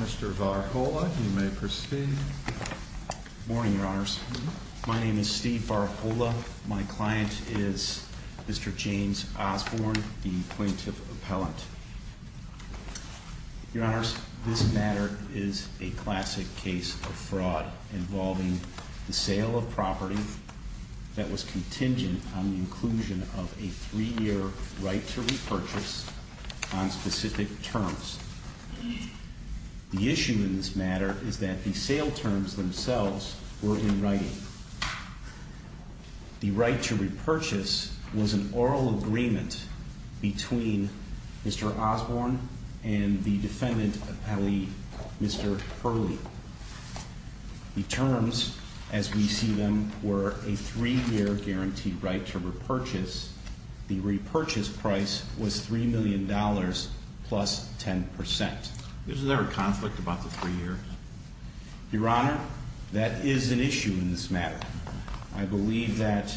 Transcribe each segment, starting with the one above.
Mr. Varhola, you may proceed Morning, your honors. My name is Steve Varhola. My client is Mr. James Osborn, the plaintiff appellant. Your honors, this matter is a classic case of fraud involving the sale of property that was contingent on the inclusion of a three-year right to repurchase on specific terms. The issue in this matter is that the sale terms themselves were in writing. The right to repurchase was an oral agreement between Mr. Osborn and the defendant appellee, Mr. Purlee. The terms, as we see them, were a three-year guaranteed right to repurchase. The repurchase price was $3 million plus 10%. Is there a conflict about the three years? Your honor, that is an issue in this matter. I believe that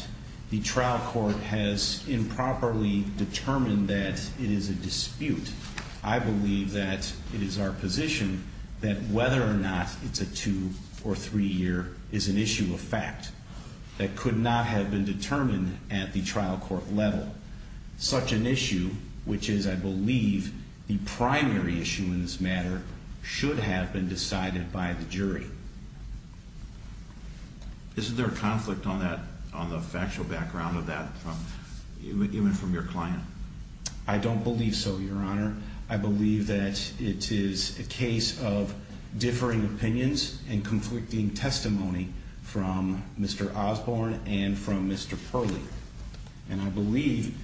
the trial court has improperly determined that it is a dispute. I believe that it is our position that whether or not it's a two- or three-year is an issue of fact. That could not have been determined at the trial court level. Such an issue, which is, I believe, the primary issue in this matter, should have been decided by the jury. Is there a conflict on the factual background of that, even from your client? I don't believe so, your honor. I believe that it is a case of differing opinions and conflicting testimony from Mr. Osborn and from Mr. Purlee. And I believe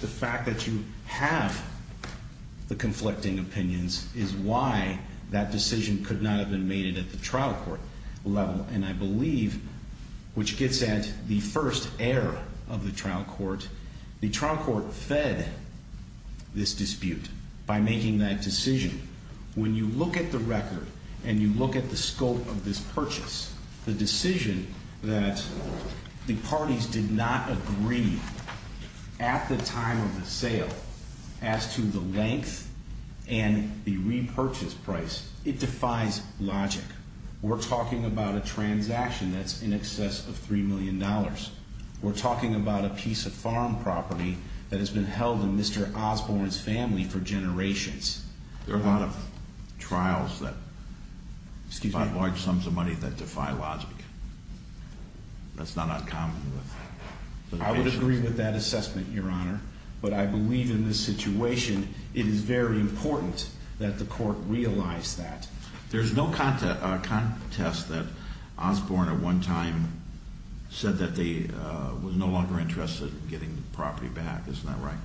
the fact that you have the conflicting opinions is why that decision could not have been made at the trial court level. And I believe, which gets at the first error of the trial court, the trial court fed this dispute by making that decision. When you look at the record and you look at the scope of this purchase, the decision that the parties did not agree at the time of the sale, as to the length and the repurchase price, it defies logic. We're talking about a transaction that's in excess of $3 million. We're talking about a piece of farm property that has been held in Mr. Osborn's family for generations. There are a lot of trials that defy logic. That's not uncommon. I would agree with that assessment, your honor. But I believe in this situation, it is very important that the court realize that. There's no contest that Osborn at one time said that they were no longer interested in getting the property back. Isn't that right?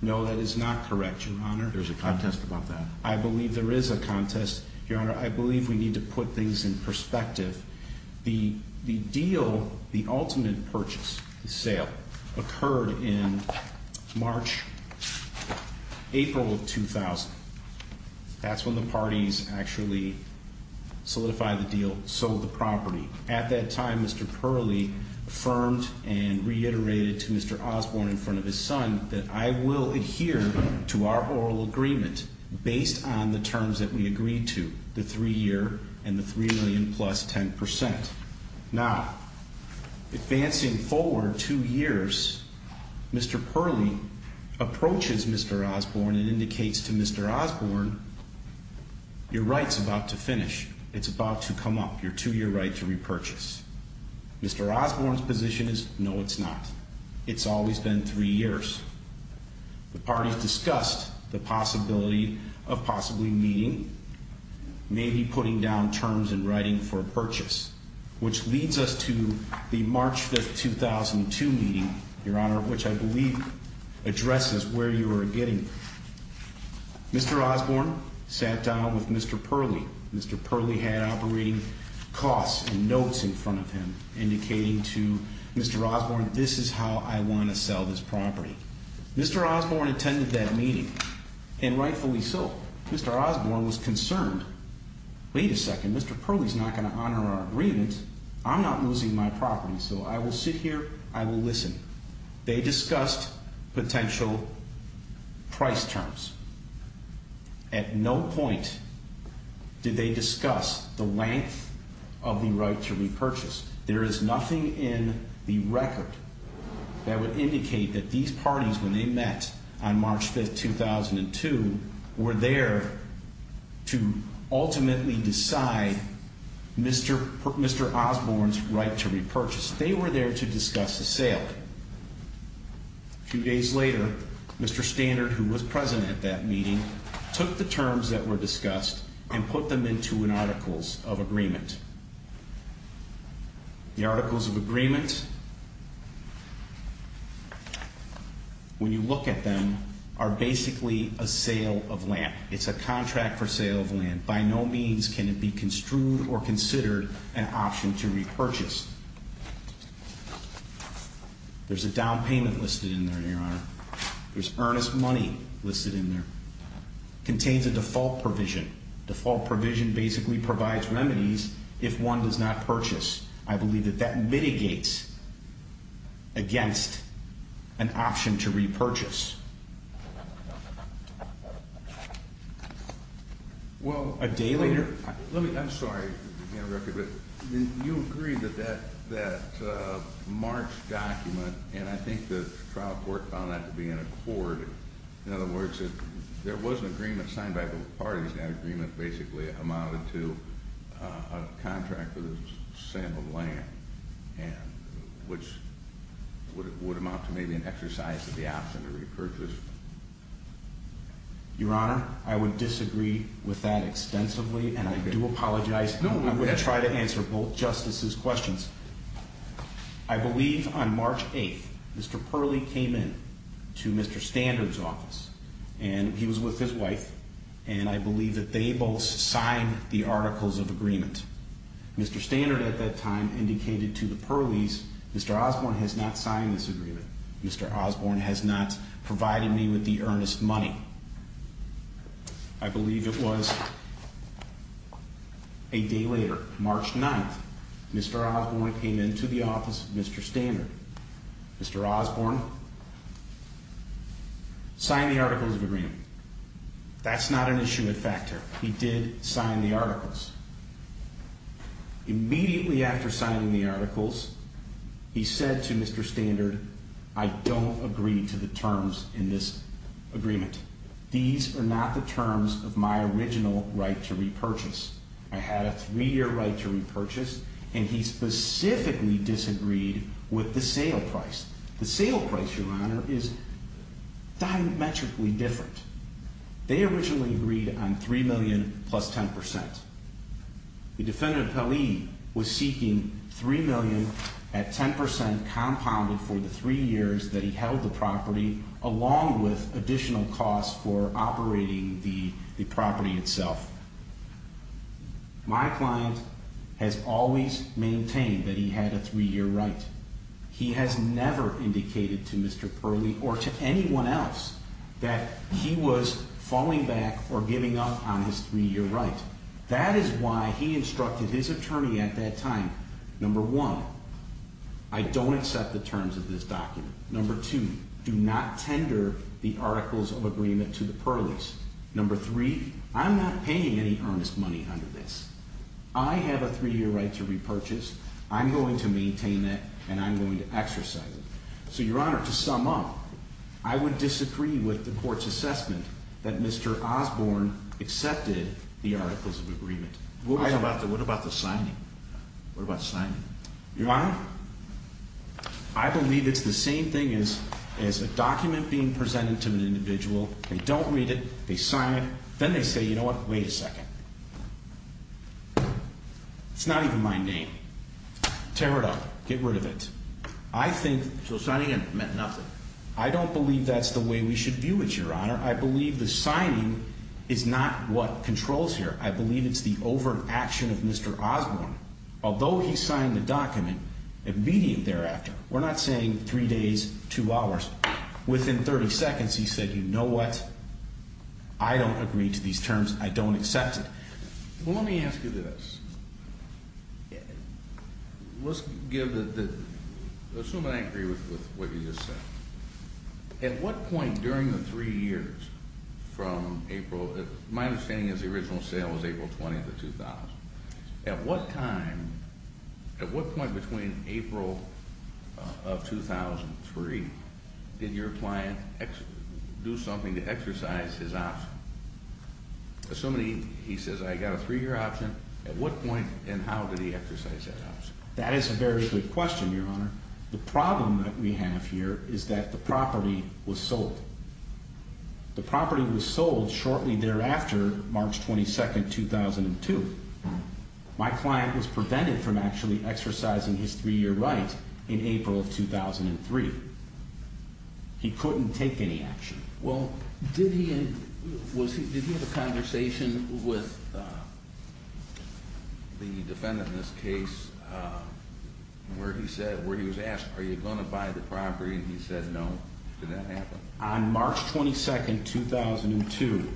No, that is not correct, your honor. There's a contest about that. I believe there is a contest, your honor. I believe we need to put things in perspective. The deal, the ultimate purchase, the sale, occurred in March, April of 2000. That's when the parties actually solidified the deal, sold the property. At that time, Mr. Perley affirmed and reiterated to Mr. Osborn in front of his son that, I will adhere to our oral agreement based on the terms that we agreed to, the three-year and the $3 million plus 10%. Now, advancing forward two years, Mr. Perley approaches Mr. Osborn and indicates to Mr. Osborn, your right's about to finish. It's about to come up, your two-year right to repurchase. Mr. Osborn's position is, no, it's not. It's always been three years. The parties discussed the possibility of possibly meeting, maybe putting down terms and writing for a purchase, which leads us to the March 5, 2002 meeting, your honor, which I believe addresses where you are getting. Mr. Osborn sat down with Mr. Perley. Mr. Perley had operating costs and notes in front of him, indicating to Mr. Osborn, this is how I want to sell this property. Mr. Osborn attended that meeting, and rightfully so. Mr. Osborn was concerned. Wait a second, Mr. Perley's not going to honor our agreement. I'm not losing my property, so I will sit here, I will listen. They discussed potential price terms. At no point did they discuss the length of the right to repurchase. There is nothing in the record that would indicate that these parties, when they met on March 5, 2002, were there to ultimately decide Mr. Osborn's right to repurchase. They were there to discuss the sale. A few days later, Mr. Standard, who was present at that meeting, took the terms that were discussed and put them into an articles of agreement. The articles of agreement, when you look at them, are basically a sale of land. It's a contract for sale of land. By no means can it be construed or considered an option to repurchase. There's a down payment listed in there, Your Honor. There's earnest money listed in there. Contains a default provision. Default provision basically provides remedies if one does not purchase. I believe that that mitigates against an option to repurchase. A day later? I'm sorry to be interrupted, but you agree that that March document, and I think the trial court found that to be in accord. In other words, there was an agreement signed by both parties, and that agreement basically amounted to a contract for the sale of land, which would amount to maybe an exercise of the option to repurchase. Your Honor, I would disagree with that extensively, and I do apologize. I'm going to try to answer both Justices' questions. I believe on March 8th, Mr. Perley came in to Mr. Standard's office, and he was with his wife, and I believe that they both signed the articles of agreement. Mr. Standard at that time indicated to the Perleys, Mr. Osborne has not signed this agreement. Mr. Osborne has not provided me with the earnest money. I believe it was a day later, March 9th, Mr. Osborne came into the office of Mr. Standard. Mr. Osborne signed the articles of agreement. That's not an issue at factor. He did sign the articles. Immediately after signing the articles, he said to Mr. Standard, I don't agree to the terms in this agreement. These are not the terms of my original right to repurchase. I had a three-year right to repurchase, and he specifically disagreed with the sale price. The sale price, Your Honor, is diametrically different. They originally agreed on $3 million plus 10%. The defendant, Perley, was seeking $3 million at 10% compounded for the three years that he held the property, along with additional costs for operating the property itself. My client has always maintained that he had a three-year right. He has never indicated to Mr. Perley or to anyone else that he was falling back or giving up on his three-year right. That is why he instructed his attorney at that time, number one, I don't accept the terms of this document. Number two, do not tender the articles of agreement to the Perleys. Number three, I'm not paying any earnest money under this. I have a three-year right to repurchase. I'm going to maintain it, and I'm going to exercise it. So, Your Honor, to sum up, I would disagree with the court's assessment that Mr. Osborne accepted the articles of agreement. What about the signing? What about the signing? Your Honor, I believe it's the same thing as a document being presented to an individual. They don't read it. They sign it. Then they say, you know what, wait a second. It's not even my name. Tear it up. Get rid of it. I think... So signing it meant nothing. I don't believe that's the way we should view it, Your Honor. I believe the signing is not what controls here. I believe it's the overt action of Mr. Osborne. Although he signed the document, immediate thereafter, we're not saying three days, two hours. Within 30 seconds, he said, you know what, I don't agree to these terms. I don't accept it. Well, let me ask you this. Let's give the... Let's assume I agree with what you just said. At what point during the three years from April... My understanding is the original sale was April 20th of 2000. At what time, at what point between April of 2003, did your client do something to exercise his option? Assuming, he says, I got a three-year option, at what point and how did he exercise that option? That is a very good question, Your Honor. The problem that we have here is that the property was sold. The property was sold shortly thereafter, March 22nd, 2002. My client was prevented from actually exercising his three-year right in April of 2003. He couldn't take any action. Well, did he... Did he have a conversation with the defendant in this case where he was asked, are you going to buy the property? And he said no. Did that happen? On March 22nd, 2002...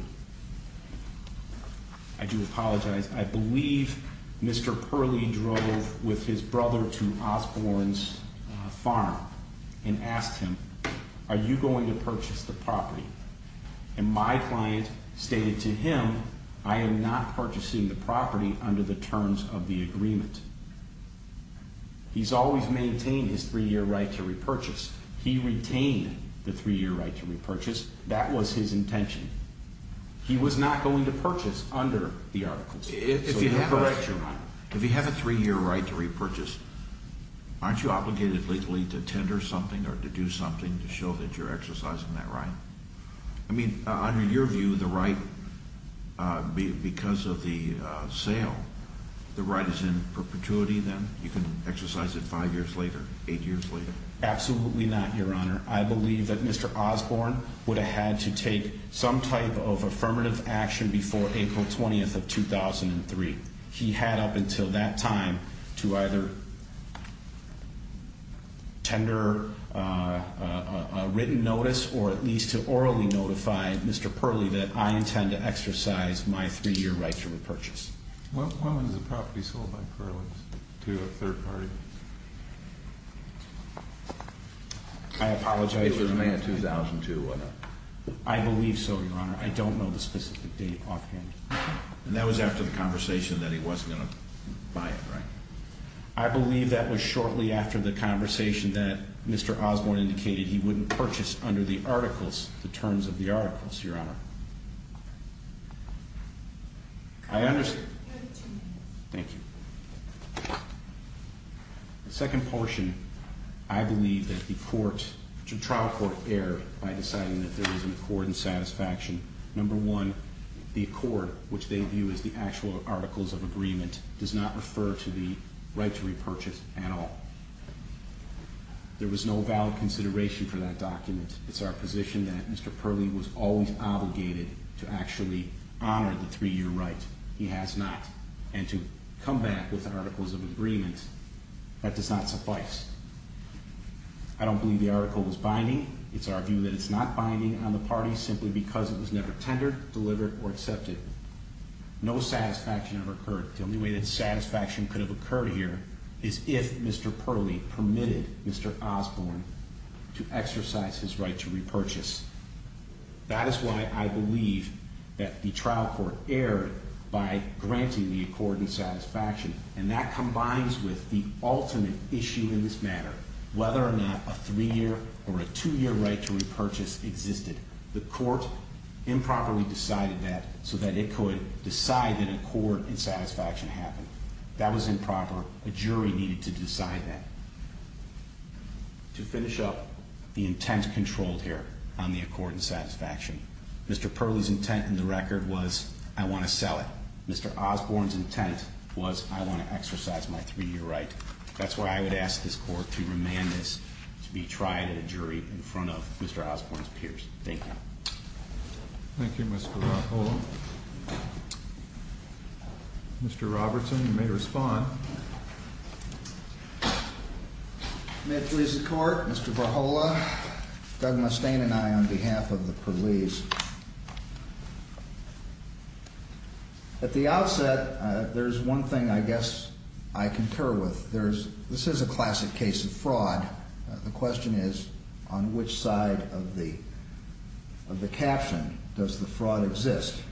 I do apologize. I believe Mr. Purley drove with his brother to Osborne's farm and asked him, are you going to purchase the property? And my client stated to him, I am not purchasing the property under the terms of the agreement. He's always maintained his three-year right to repurchase. He retained the three-year right to repurchase. That was his intention. He was not going to purchase under the articles. If you have a three-year right to repurchase, aren't you obligated legally to tender something or to do something to show that you're exercising that right? I mean, under your view, the right, because of the sale, the right is in perpetuity then? You can exercise it five years later, eight years later? Absolutely not, Your Honor. I believe that Mr. Osborne would have had to take some type of affirmative action before April 20th of 2003. He had up until that time to either tender a written notice or at least to orally notify Mr. Purley that I intend to exercise my three-year right to repurchase. When was the property sold by Purley to a third party? I apologize. It was May of 2002, I know. I believe so, Your Honor. I don't know the specific date offhand. And that was after the conversation that he wasn't going to buy it, right? I believe that was shortly after the conversation that Mr. Osborne indicated he wouldn't purchase under the articles, the terms of the articles, Your Honor. I understand. You have two minutes. Thank you. The second portion, I believe that the trial court erred by deciding that there was an accord and satisfaction. Number one, the accord, which they view as the actual articles of agreement, does not refer to the right to repurchase at all. There was no valid consideration for that document. It's our position that Mr. Purley was always obligated to actually honor the three-year right. He has not. And to come back with articles of agreement, that does not suffice. I don't believe the article was binding. It's our view that it's not binding on the party simply because it was never tendered, delivered, or accepted. No satisfaction ever occurred. The only way that satisfaction could have occurred here is if Mr. Purley permitted Mr. Osborne to exercise his right to repurchase. That is why I believe that the trial court erred by granting the accord and satisfaction. And that combines with the ultimate issue in this matter, whether or not a three-year or a two-year right to repurchase existed. The court improperly decided that so that it could decide that accord and satisfaction happened. That was improper. A jury needed to decide that. To finish up, the intent controlled here on the accord and satisfaction. Mr. Purley's intent in the record was, I want to sell it. Mr. Osborne's intent was, I want to exercise my three-year right. That's why I would ask this court to remand this to be tried in a jury in front of Mr. Osborne's peers. Thank you. Thank you, Mr. Rahola. Mr. Robertson, you may respond. May it please the court, Mr. Rahola, Doug Mustaine and I on behalf of the Purleys. At the outset, there's one thing I guess I concur with. This is a classic case of fraud. The question is, on which side of the caption does the fraud exist?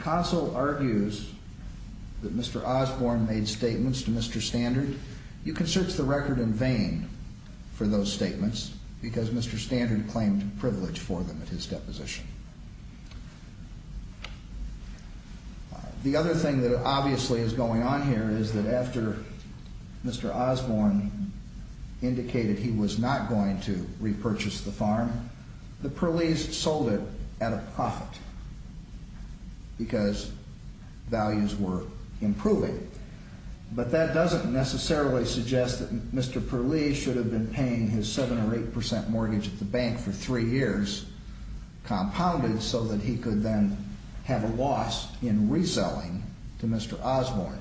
Console argues that Mr. Osborne made statements to Mr. Standard. You can search the record in vain for those statements because Mr. Standard claimed privilege for them at his deposition. The other thing that obviously is going on here is that after Mr. Osborne indicated he was not going to repurchase the farm, the Purleys sold it at a profit because values were improving. But that doesn't necessarily suggest that Mr. Purley should have been paying his 7 or 8 percent mortgage at the bank for three years, compounded so that he could then have a loss in reselling to Mr. Osborne.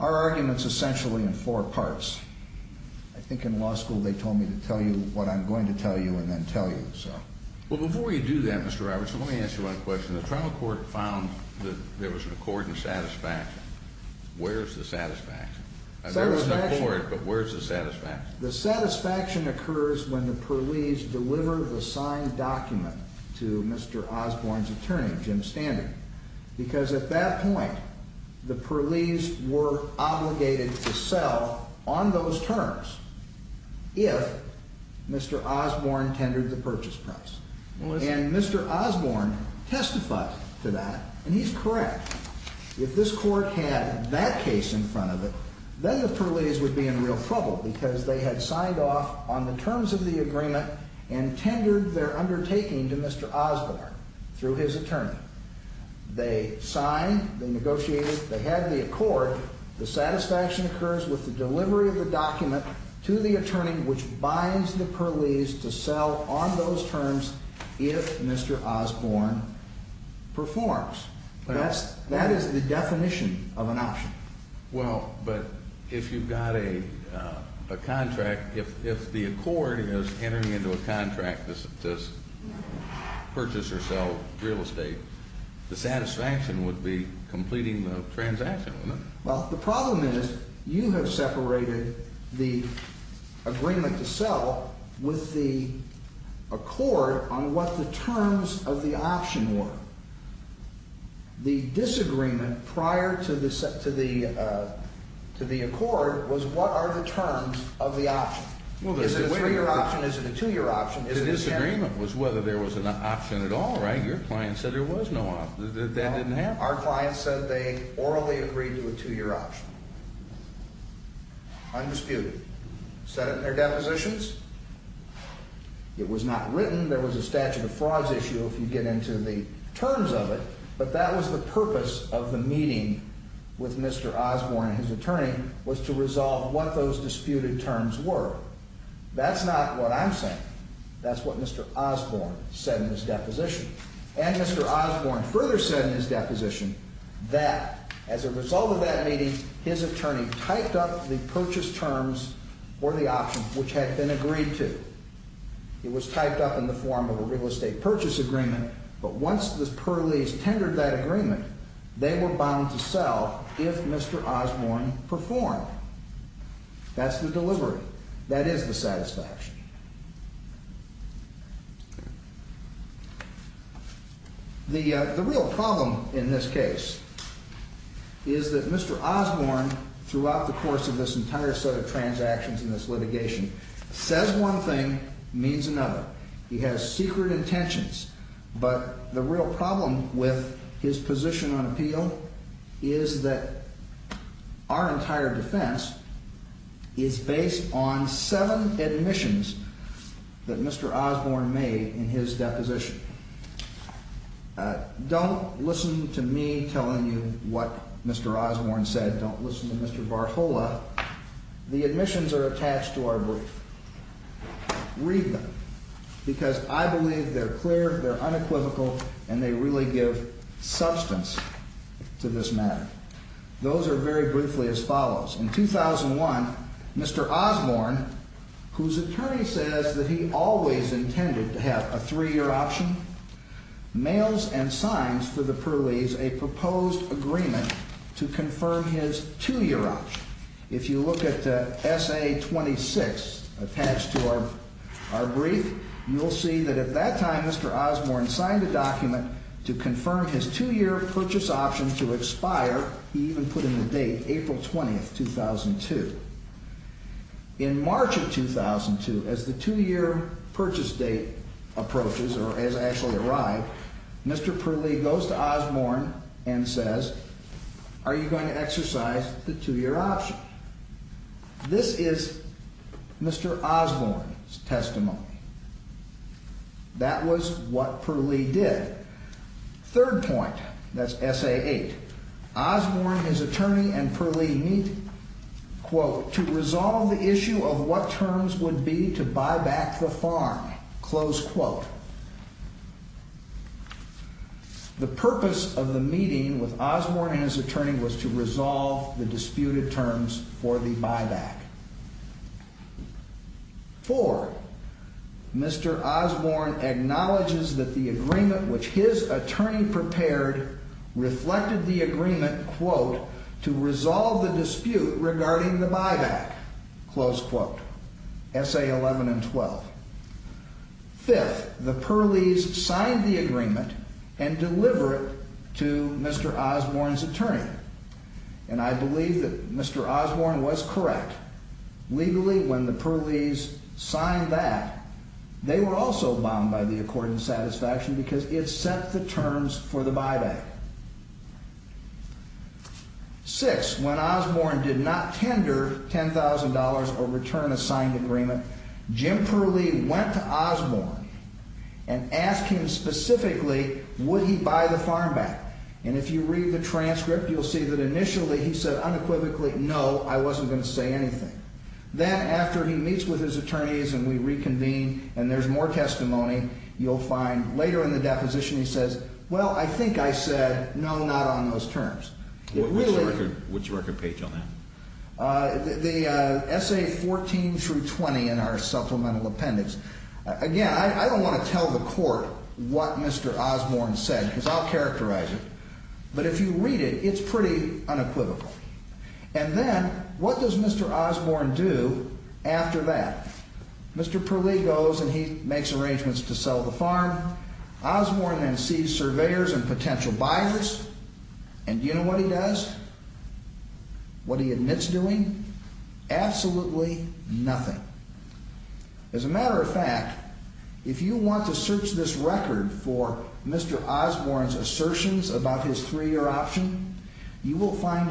Our argument is essentially in four parts. I think in law school they told me to tell you what I'm going to tell you and then tell you. Before you do that, Mr. Robertson, let me ask you one question. When the trial court found that there was a court in satisfaction, where's the satisfaction? There was a court, but where's the satisfaction? The satisfaction occurs when the Purleys deliver the signed document to Mr. Osborne's attorney, Jim Standard, because at that point the Purleys were obligated to sell on those terms if Mr. Osborne tendered the purchase price. And Mr. Osborne testified to that, and he's correct. If this court had that case in front of it, then the Purleys would be in real trouble because they had signed off on the terms of the agreement and tendered their undertaking to Mr. Osborne through his attorney. They signed, they negotiated, they had the accord. The satisfaction occurs with the delivery of the document to the attorney, which binds the Purleys to sell on those terms if Mr. Osborne performs. That is the definition of an option. Well, but if you've got a contract, if the accord is entering into a contract to purchase or sell real estate, the satisfaction would be completing the transaction, wouldn't it? Well, the problem is you have separated the agreement to sell with the accord on what the terms of the option were. The disagreement prior to the accord was what are the terms of the option. Is it a three-year option? Is it a two-year option? The disagreement was whether there was an option at all, right? Your client said there was no option. That didn't happen. Our client said they orally agreed to a two-year option, undisputed. Set it in their depositions. It was not written. There was a statute of frauds issue if you get into the terms of it, but that was the purpose of the meeting with Mr. Osborne and his attorney was to resolve what those disputed terms were. That's not what I'm saying. That's what Mr. Osborne said in his deposition. And Mr. Osborne further said in his deposition that as a result of that meeting, his attorney typed up the purchase terms for the option which had been agreed to. It was typed up in the form of a real estate purchase agreement, but once the Perleys tendered that agreement, they were bound to sell if Mr. Osborne performed. That's the delivery. That is the satisfaction. The real problem in this case is that Mr. Osborne throughout the course of this entire set of transactions in this litigation says one thing, means another. He has secret intentions, but the real problem with his position on appeal is that our entire defense is based on seven admissions that Mr. Osborne made in his deposition. Don't listen to me telling you what Mr. Osborne said. Don't listen to Mr. Barhola. The admissions are attached to our brief. Read them because I believe they're clear, they're unequivocal, and they really give substance to this matter. Those are very briefly as follows. In 2001, Mr. Osborne, whose attorney says that he always intended to have a three-year option, mails and signs for the Perleys a proposed agreement to confirm his two-year option. If you look at SA-26 attached to our brief, you'll see that at that time Mr. Osborne signed a document to confirm his two-year purchase option to expire. He even put in the date, April 20, 2002. In March of 2002, as the two-year purchase date approaches or has actually arrived, Mr. Perley goes to Osborne and says, are you going to exercise the two-year option? This is Mr. Osborne's testimony. That was what Perley did. Third point, that's SA-8. Osborne, his attorney, and Perley meet, quote, The purpose of the meeting with Osborne and his attorney was to resolve the disputed terms for the buyback. Four, Mr. Osborne acknowledges that the agreement which his attorney prepared reflected the agreement, quote, to resolve the dispute regarding the buyback, close quote, SA-11 and 12. Fifth, the Perleys signed the agreement and deliver it to Mr. Osborne's attorney. And I believe that Mr. Osborne was correct. Legally, when the Perleys signed that, they were also bound by the accord and satisfaction because it set the terms for the buyback. Six, when Osborne did not tender $10,000 or return a signed agreement, Jim Perley went to Osborne and asked him specifically, would he buy the farm back? And if you read the transcript, you'll see that initially he said unequivocally, no, I wasn't going to say anything. Then after he meets with his attorneys and we reconvene and there's more testimony, you'll find later in the deposition he says, well, I think I said no, not on those terms. Which record page on that? The SA-14 through 20 in our supplemental appendix. Again, I don't want to tell the court what Mr. Osborne said because I'll characterize it. But if you read it, it's pretty unequivocal. And then what does Mr. Osborne do after that? Mr. Perley goes and he makes arrangements to sell the farm. Osborne then sees surveyors and potential buyers. And do you know what he does? What he admits doing? Absolutely nothing. As a matter of fact, if you want to search this record for Mr. Osborne's assertions about his three-year option, you will find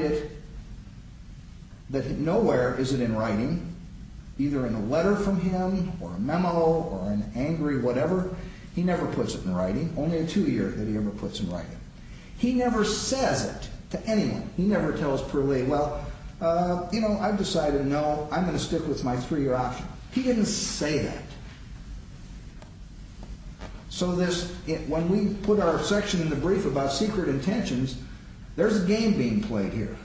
that nowhere is it in writing, either in a letter from him or a memo or an angry whatever. He never puts it in writing, only in two years that he ever puts it in writing. He never says it to anyone. He never tells Perley, well, you know, I've decided no, I'm going to stick with my three-year option. He didn't say that. So when we put our section in the brief about secret intentions, there's a game being played here.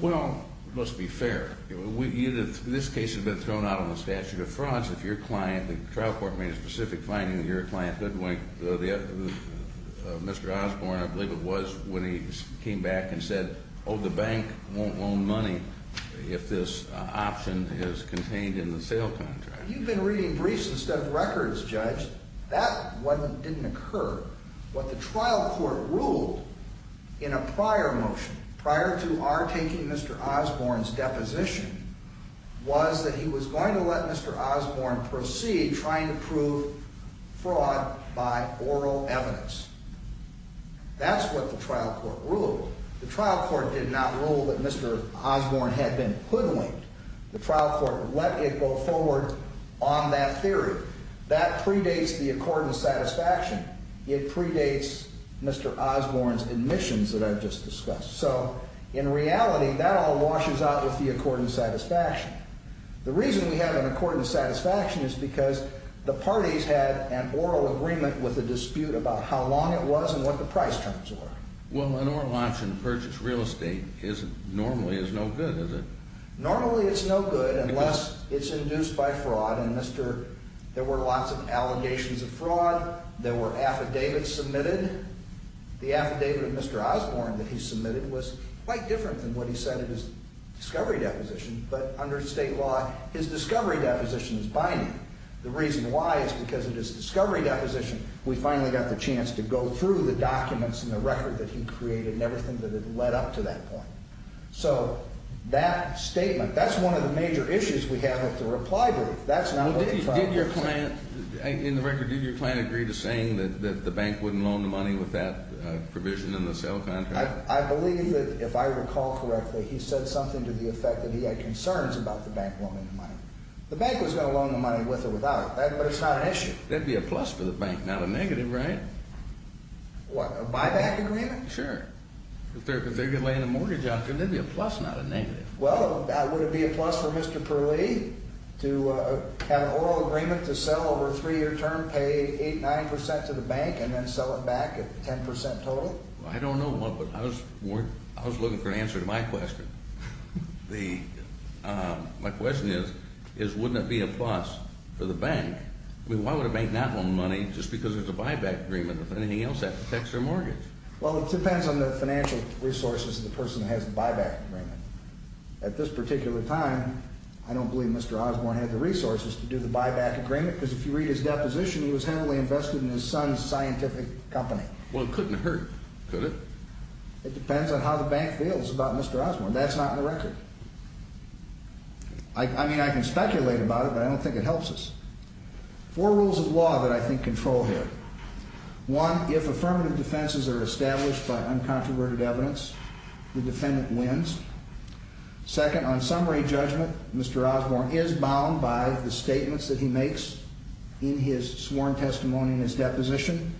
Well, it must be fair. This case has been thrown out on the statute of frauds. The trial court made a specific finding that your client, Mr. Osborne, I believe it was, when he came back and said, oh, the bank won't loan money if this option is contained in the sale contract. You've been reading briefs instead of records, Judge. That one didn't occur. What the trial court ruled in a prior motion, prior to our taking Mr. Osborne's deposition, was that he was going to let Mr. Osborne proceed trying to prove fraud by oral evidence. That's what the trial court ruled. The trial court did not rule that Mr. Osborne had been hoodwinked. The trial court let it go forward on that theory. That predates the accord and satisfaction. It predates Mr. Osborne's admissions that I've just discussed. So in reality, that all washes out with the accord and satisfaction. The reason we have an accord and satisfaction is because the parties had an oral agreement with a dispute about how long it was and what the price terms were. Well, an oral auction to purchase real estate normally is no good, is it? Normally it's no good unless it's induced by fraud. There were lots of allegations of fraud. There were affidavits submitted. The affidavit of Mr. Osborne that he submitted was quite different than what he said in his discovery deposition. But under state law, his discovery deposition is binding. The reason why is because of his discovery deposition, we finally got the chance to go through the documents and the record that he created and everything that had led up to that point. So that statement, that's one of the major issues we have with the reply brief. That's not what he filed. In the record, did your client agree to saying that the bank wouldn't loan the money with that provision in the sale contract? I believe that if I recall correctly, he said something to the effect that he had concerns about the bank loaning the money. The bank was going to loan the money with or without it, but it's not an issue. That would be a plus for the bank, not a negative, right? What, a buyback agreement? Sure. If they're laying a mortgage out, could there be a plus, not a negative? Well, would it be a plus for Mr. Perley to have an oral agreement to sell over a three-year term, pay 8%, 9% to the bank, and then sell it back at 10% total? I don't know, but I was looking for an answer to my question. My question is, wouldn't it be a plus for the bank? I mean, why would a bank not loan money just because there's a buyback agreement? If anything else, that protects their mortgage. Well, it depends on the financial resources of the person who has the buyback agreement. At this particular time, I don't believe Mr. Osborne had the resources to do the buyback agreement because if you read his deposition, he was heavily invested in his son's scientific company. Well, it couldn't hurt, could it? It depends on how the bank feels about Mr. Osborne. That's not in the record. I mean, I can speculate about it, but I don't think it helps us. Four rules of law that I think control here. One, if affirmative defenses are established by uncontroverted evidence, the defendant wins. Second, on summary judgment, Mr. Osborne is bound by the statements that he makes in his sworn testimony in his deposition.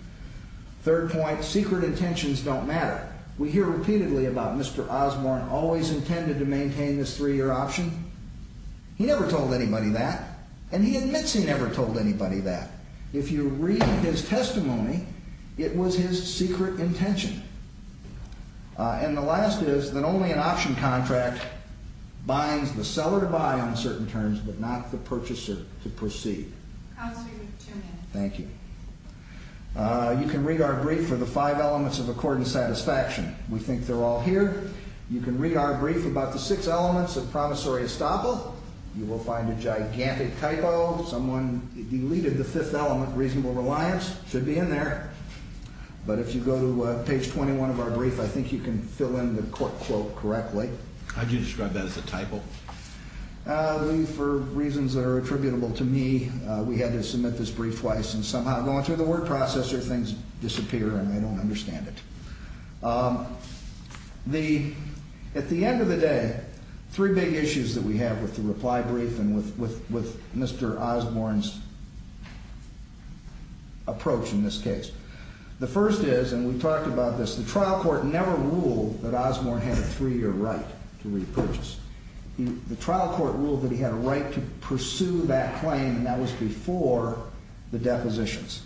Third point, secret intentions don't matter. We hear repeatedly about Mr. Osborne always intended to maintain this 3-year option. He never told anybody that, and he admits he never told anybody that. If you read his testimony, it was his secret intention. And the last is that only an option contract binds the seller to buy on certain terms but not the purchaser to proceed. Counselor, you have two minutes. Thank you. You can read our brief for the five elements of accord and satisfaction. We think they're all here. You can read our brief about the six elements of promissory estoppel. You will find a gigantic typo. Someone deleted the fifth element, reasonable reliance. It should be in there. But if you go to page 21 of our brief, I think you can fill in the quote correctly. How do you describe that as a typo? For reasons that are attributable to me, we had to submit this brief twice, and somehow going through the word processor, things disappear and I don't understand it. At the end of the day, three big issues that we have with the reply brief and with Mr. Osborne's approach in this case. The first is, and we talked about this, the trial court never ruled that Osborne had a three-year right to repurchase. The trial court ruled that he had a right to pursue that claim, and that was before the depositions.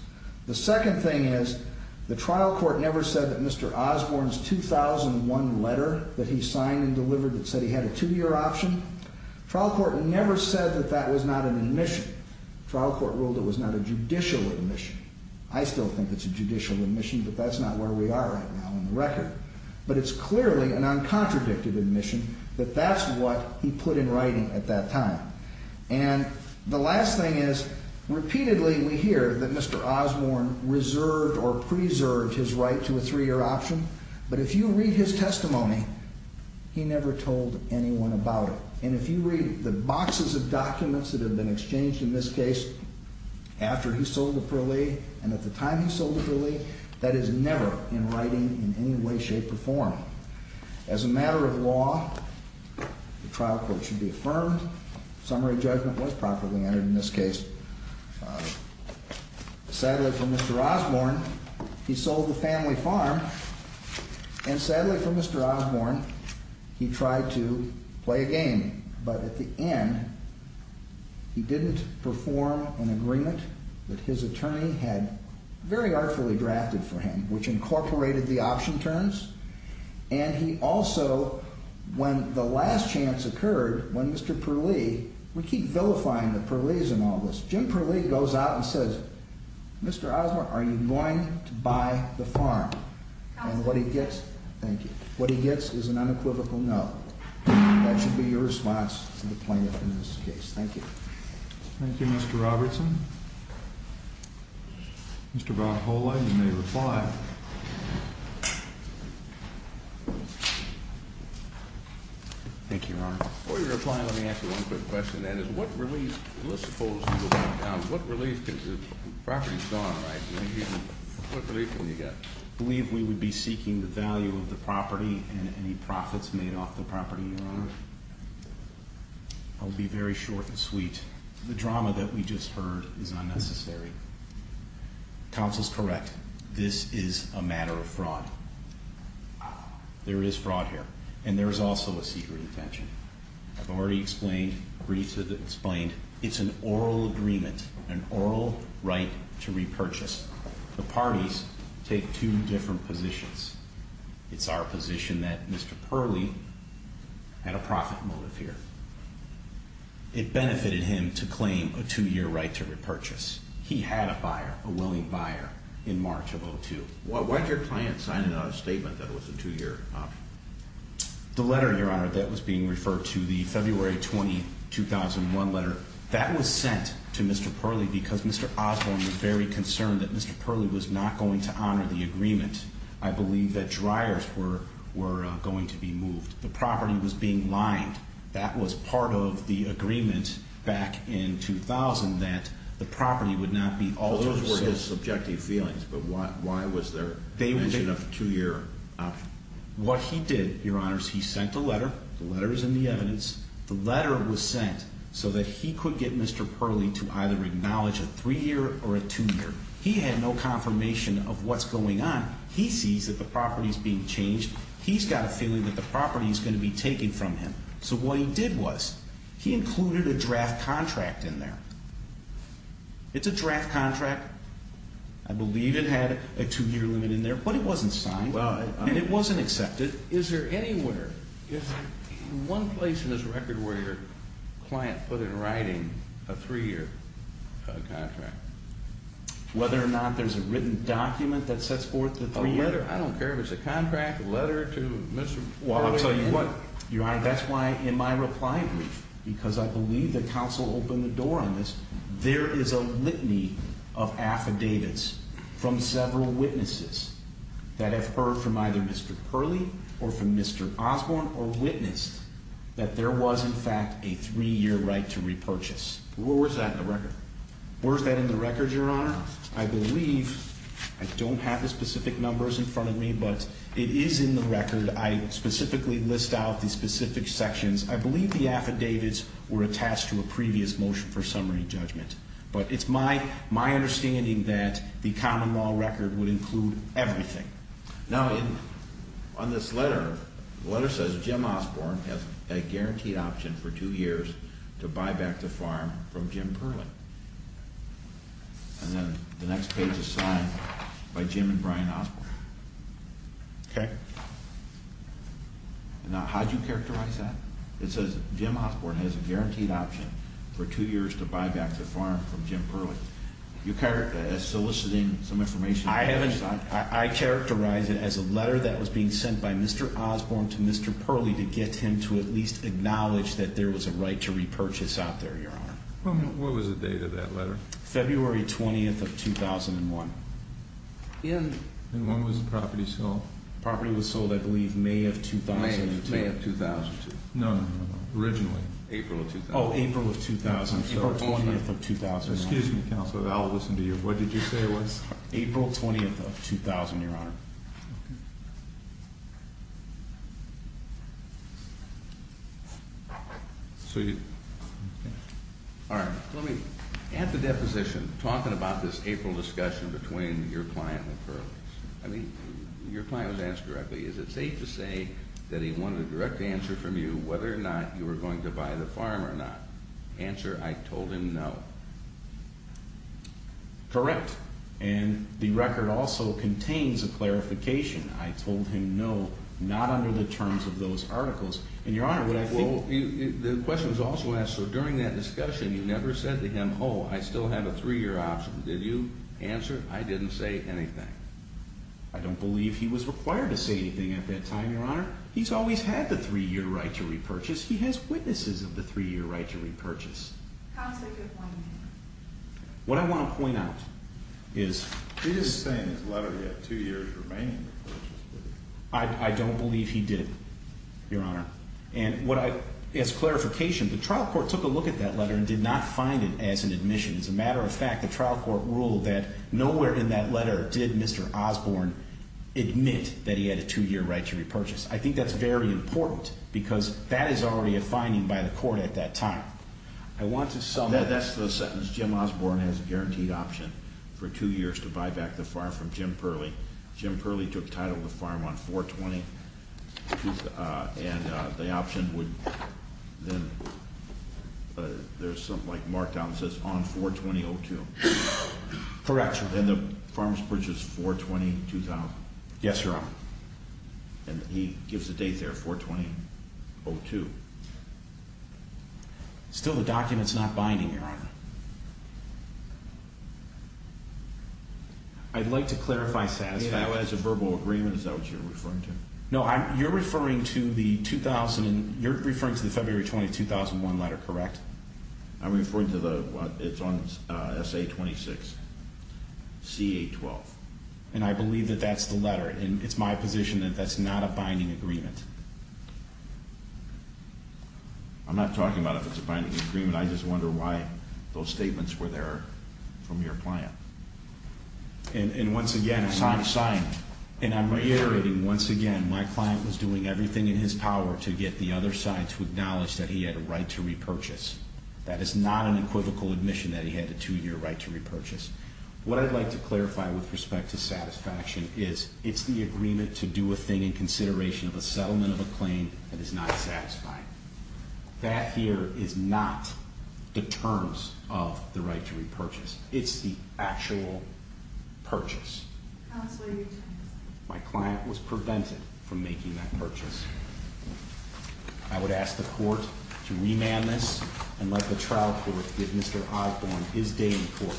The second thing is, the trial court never said that Mr. Osborne's 2001 letter that he signed and delivered that said he had a two-year option, trial court never said that that was not an admission. Trial court ruled it was not a judicial admission. I still think it's a judicial admission, but that's not where we are right now on the record. But it's clearly an uncontradicted admission that that's what he put in writing at that time. And the last thing is, repeatedly we hear that Mr. Osborne reserved or preserved his right to a three-year option, but if you read his testimony, he never told anyone about it. And if you read the boxes of documents that have been exchanged in this case, after he sold to Perlee and at the time he sold to Perlee, that is never in writing in any way, shape, or form. As a matter of law, the trial court should be affirmed, summary judgment was properly entered in this case. Sadly for Mr. Osborne, he sold the family farm, and sadly for Mr. Osborne, he tried to play a game. But at the end, he didn't perform an agreement that his attorney had very artfully drafted for him, which incorporated the option terms. And he also, when the last chance occurred, when Mr. Perlee, we keep vilifying the Perlees in all this, Jim Perlee goes out and says, Mr. Osborne, are you going to buy the farm? And what he gets, thank you, what he gets is an unequivocal no. That should be your response to the plaintiff in this case. Thank you. Thank you, Mr. Robertson. Mr. Valholla, you may reply. Thank you, Your Honor. Before you reply, let me ask you one quick question. That is, what relief, let's suppose, what relief, because the property's gone, right? What relief have you got? I believe we would be seeking the value of the property and any profits made off the property, Your Honor. I'll be very short and sweet. The drama that we just heard is unnecessary. Counsel's correct. This is a matter of fraud. There is fraud here. And there is also a secret intention. I've already explained, briefly explained, it's an oral agreement, an oral right to repurchase. The parties take two different positions. It's our position that Mr. Perlee had a profit motive here. It benefited him to claim a two-year right to repurchase. He had a buyer, a willing buyer, in March of 2002. Why did your client sign a statement that it was a two-year option? The letter, Your Honor, that was being referred to, the February 20, 2001 letter, that was sent to Mr. Perlee because Mr. Osborne was very concerned that Mr. Perlee was not going to honor the agreement. I believe that dryers were going to be moved. The property was being mined. That was part of the agreement back in 2000 that the property would not be altered. Those were his subjective feelings, but why was there a mention of a two-year option? What he did, Your Honors, he sent a letter. The letter is in the evidence. The letter was sent so that he could get Mr. Perlee to either acknowledge a three-year or a two-year. He had no confirmation of what's going on. He sees that the property is being changed. He's got a feeling that the property is going to be taken from him. So what he did was he included a draft contract in there. It's a draft contract. I believe it had a two-year limit in there, but it wasn't signed, and it wasn't accepted. Is there anywhere, in one place in this record, where your client put in writing a three-year contract? Whether or not there's a written document that sets forth the three-year? I don't care if it's a contract, a letter to Mr. Perlee. Well, I'll tell you what, Your Honor, that's why in my reply brief, because I believe the counsel opened the door on this, there is a litany of affidavits from several witnesses that have heard from either Mr. Perlee or from Mr. Osborne or witnessed that there was, in fact, a three-year right to repurchase. Well, where's that in the record? Where's that in the record, Your Honor? Your Honor, I believe, I don't have the specific numbers in front of me, but it is in the record. I specifically list out the specific sections. I believe the affidavits were attached to a previous motion for summary judgment. But it's my understanding that the common law record would include everything. Now, on this letter, the letter says Jim Osborne has a guaranteed option for two years to buy back the farm from Jim Perlee. And then the next page is signed by Jim and Brian Osborne. Okay. Now, how do you characterize that? It says Jim Osborne has a guaranteed option for two years to buy back the farm from Jim Perlee. You're soliciting some information. I characterize it as a letter that was being sent by Mr. Osborne to Mr. Perlee to get him to at least acknowledge that there was a right to repurchase out there, Your Honor. What was the date of that letter? February 20th of 2001. And when was the property sold? The property was sold, I believe, May of 2002. May of 2002. No, no, no, no. Originally. April of 2000. Oh, April of 2000. April 20th of 2001. Excuse me, Counselor, I'll listen to you. What did you say it was? April 20th of 2000, Your Honor. Okay. All right. Let me add the deposition, talking about this April discussion between your client and Perlee's. I mean, your client was asked directly, is it safe to say that he wanted a direct answer from you whether or not you were going to buy the farm or not? Answer, I told him no. Correct. And the record also contains a clarification. I told him no, not under the terms of those articles. And Your Honor, what I think Well, the question was also asked, so during that discussion, you never said to him, oh, I still have a three-year option. Did you answer? I didn't say anything. I don't believe he was required to say anything at that time, Your Honor. He's always had the three-year right to repurchase. He has witnesses of the three-year right to repurchase. Counselor, could you point me to him? What I want to point out is He is saying in his letter he had two years remaining to repurchase. I don't believe he did, Your Honor. And as clarification, the trial court took a look at that letter and did not find it as an admission. As a matter of fact, the trial court ruled that nowhere in that letter did Mr. Osborne admit that he had a two-year right to repurchase. I think that's very important because that is already a finding by the court at that time. I want to sum up That's the sentence. Jim Osborne has a guaranteed option for two years to buy back the farm from Jim Purley. Jim Purley took title of the farm on 4-20. And the option would then There's something like marked down that says on 4-20-02. Correct. And the farm is purchased 4-20-2000. Yes, Your Honor. And he gives the date there, 4-20-02. Still the document's not binding, Your Honor. I'd like to clarify satisfaction. As a verbal agreement, is that what you're referring to? No, you're referring to the 2000, you're referring to the February 20, 2001 letter, correct? I'm referring to the, it's on SA-26, CA-12. And I believe that that's the letter. And it's my position that that's not a binding agreement. I'm not talking about if it's a binding agreement. I just wonder why those statements were there from your client. And once again, I'm reiterating once again, my client was doing everything in his power to get the other side to acknowledge that he had a right to repurchase. That is not an equivocal admission that he had a two-year right to repurchase. What I'd like to clarify with respect to satisfaction is, it's the agreement to do a thing in consideration of a settlement of a claim that is not satisfying. That here is not the terms of the right to repurchase. It's the actual purchase. Counselor, your time is up. My client was prevented from making that purchase. I would ask the court to remand this and let the trial court give Mr. Osborne his day in court.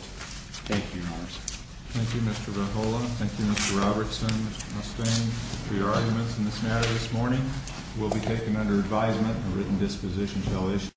Thank you, Your Honor. Thank you, Mr. Verhoeven. Thank you, Mr. Robertson, Mr. Mustang, for your arguments in this matter this morning. We'll be taking under advisement a written disposition shall issue.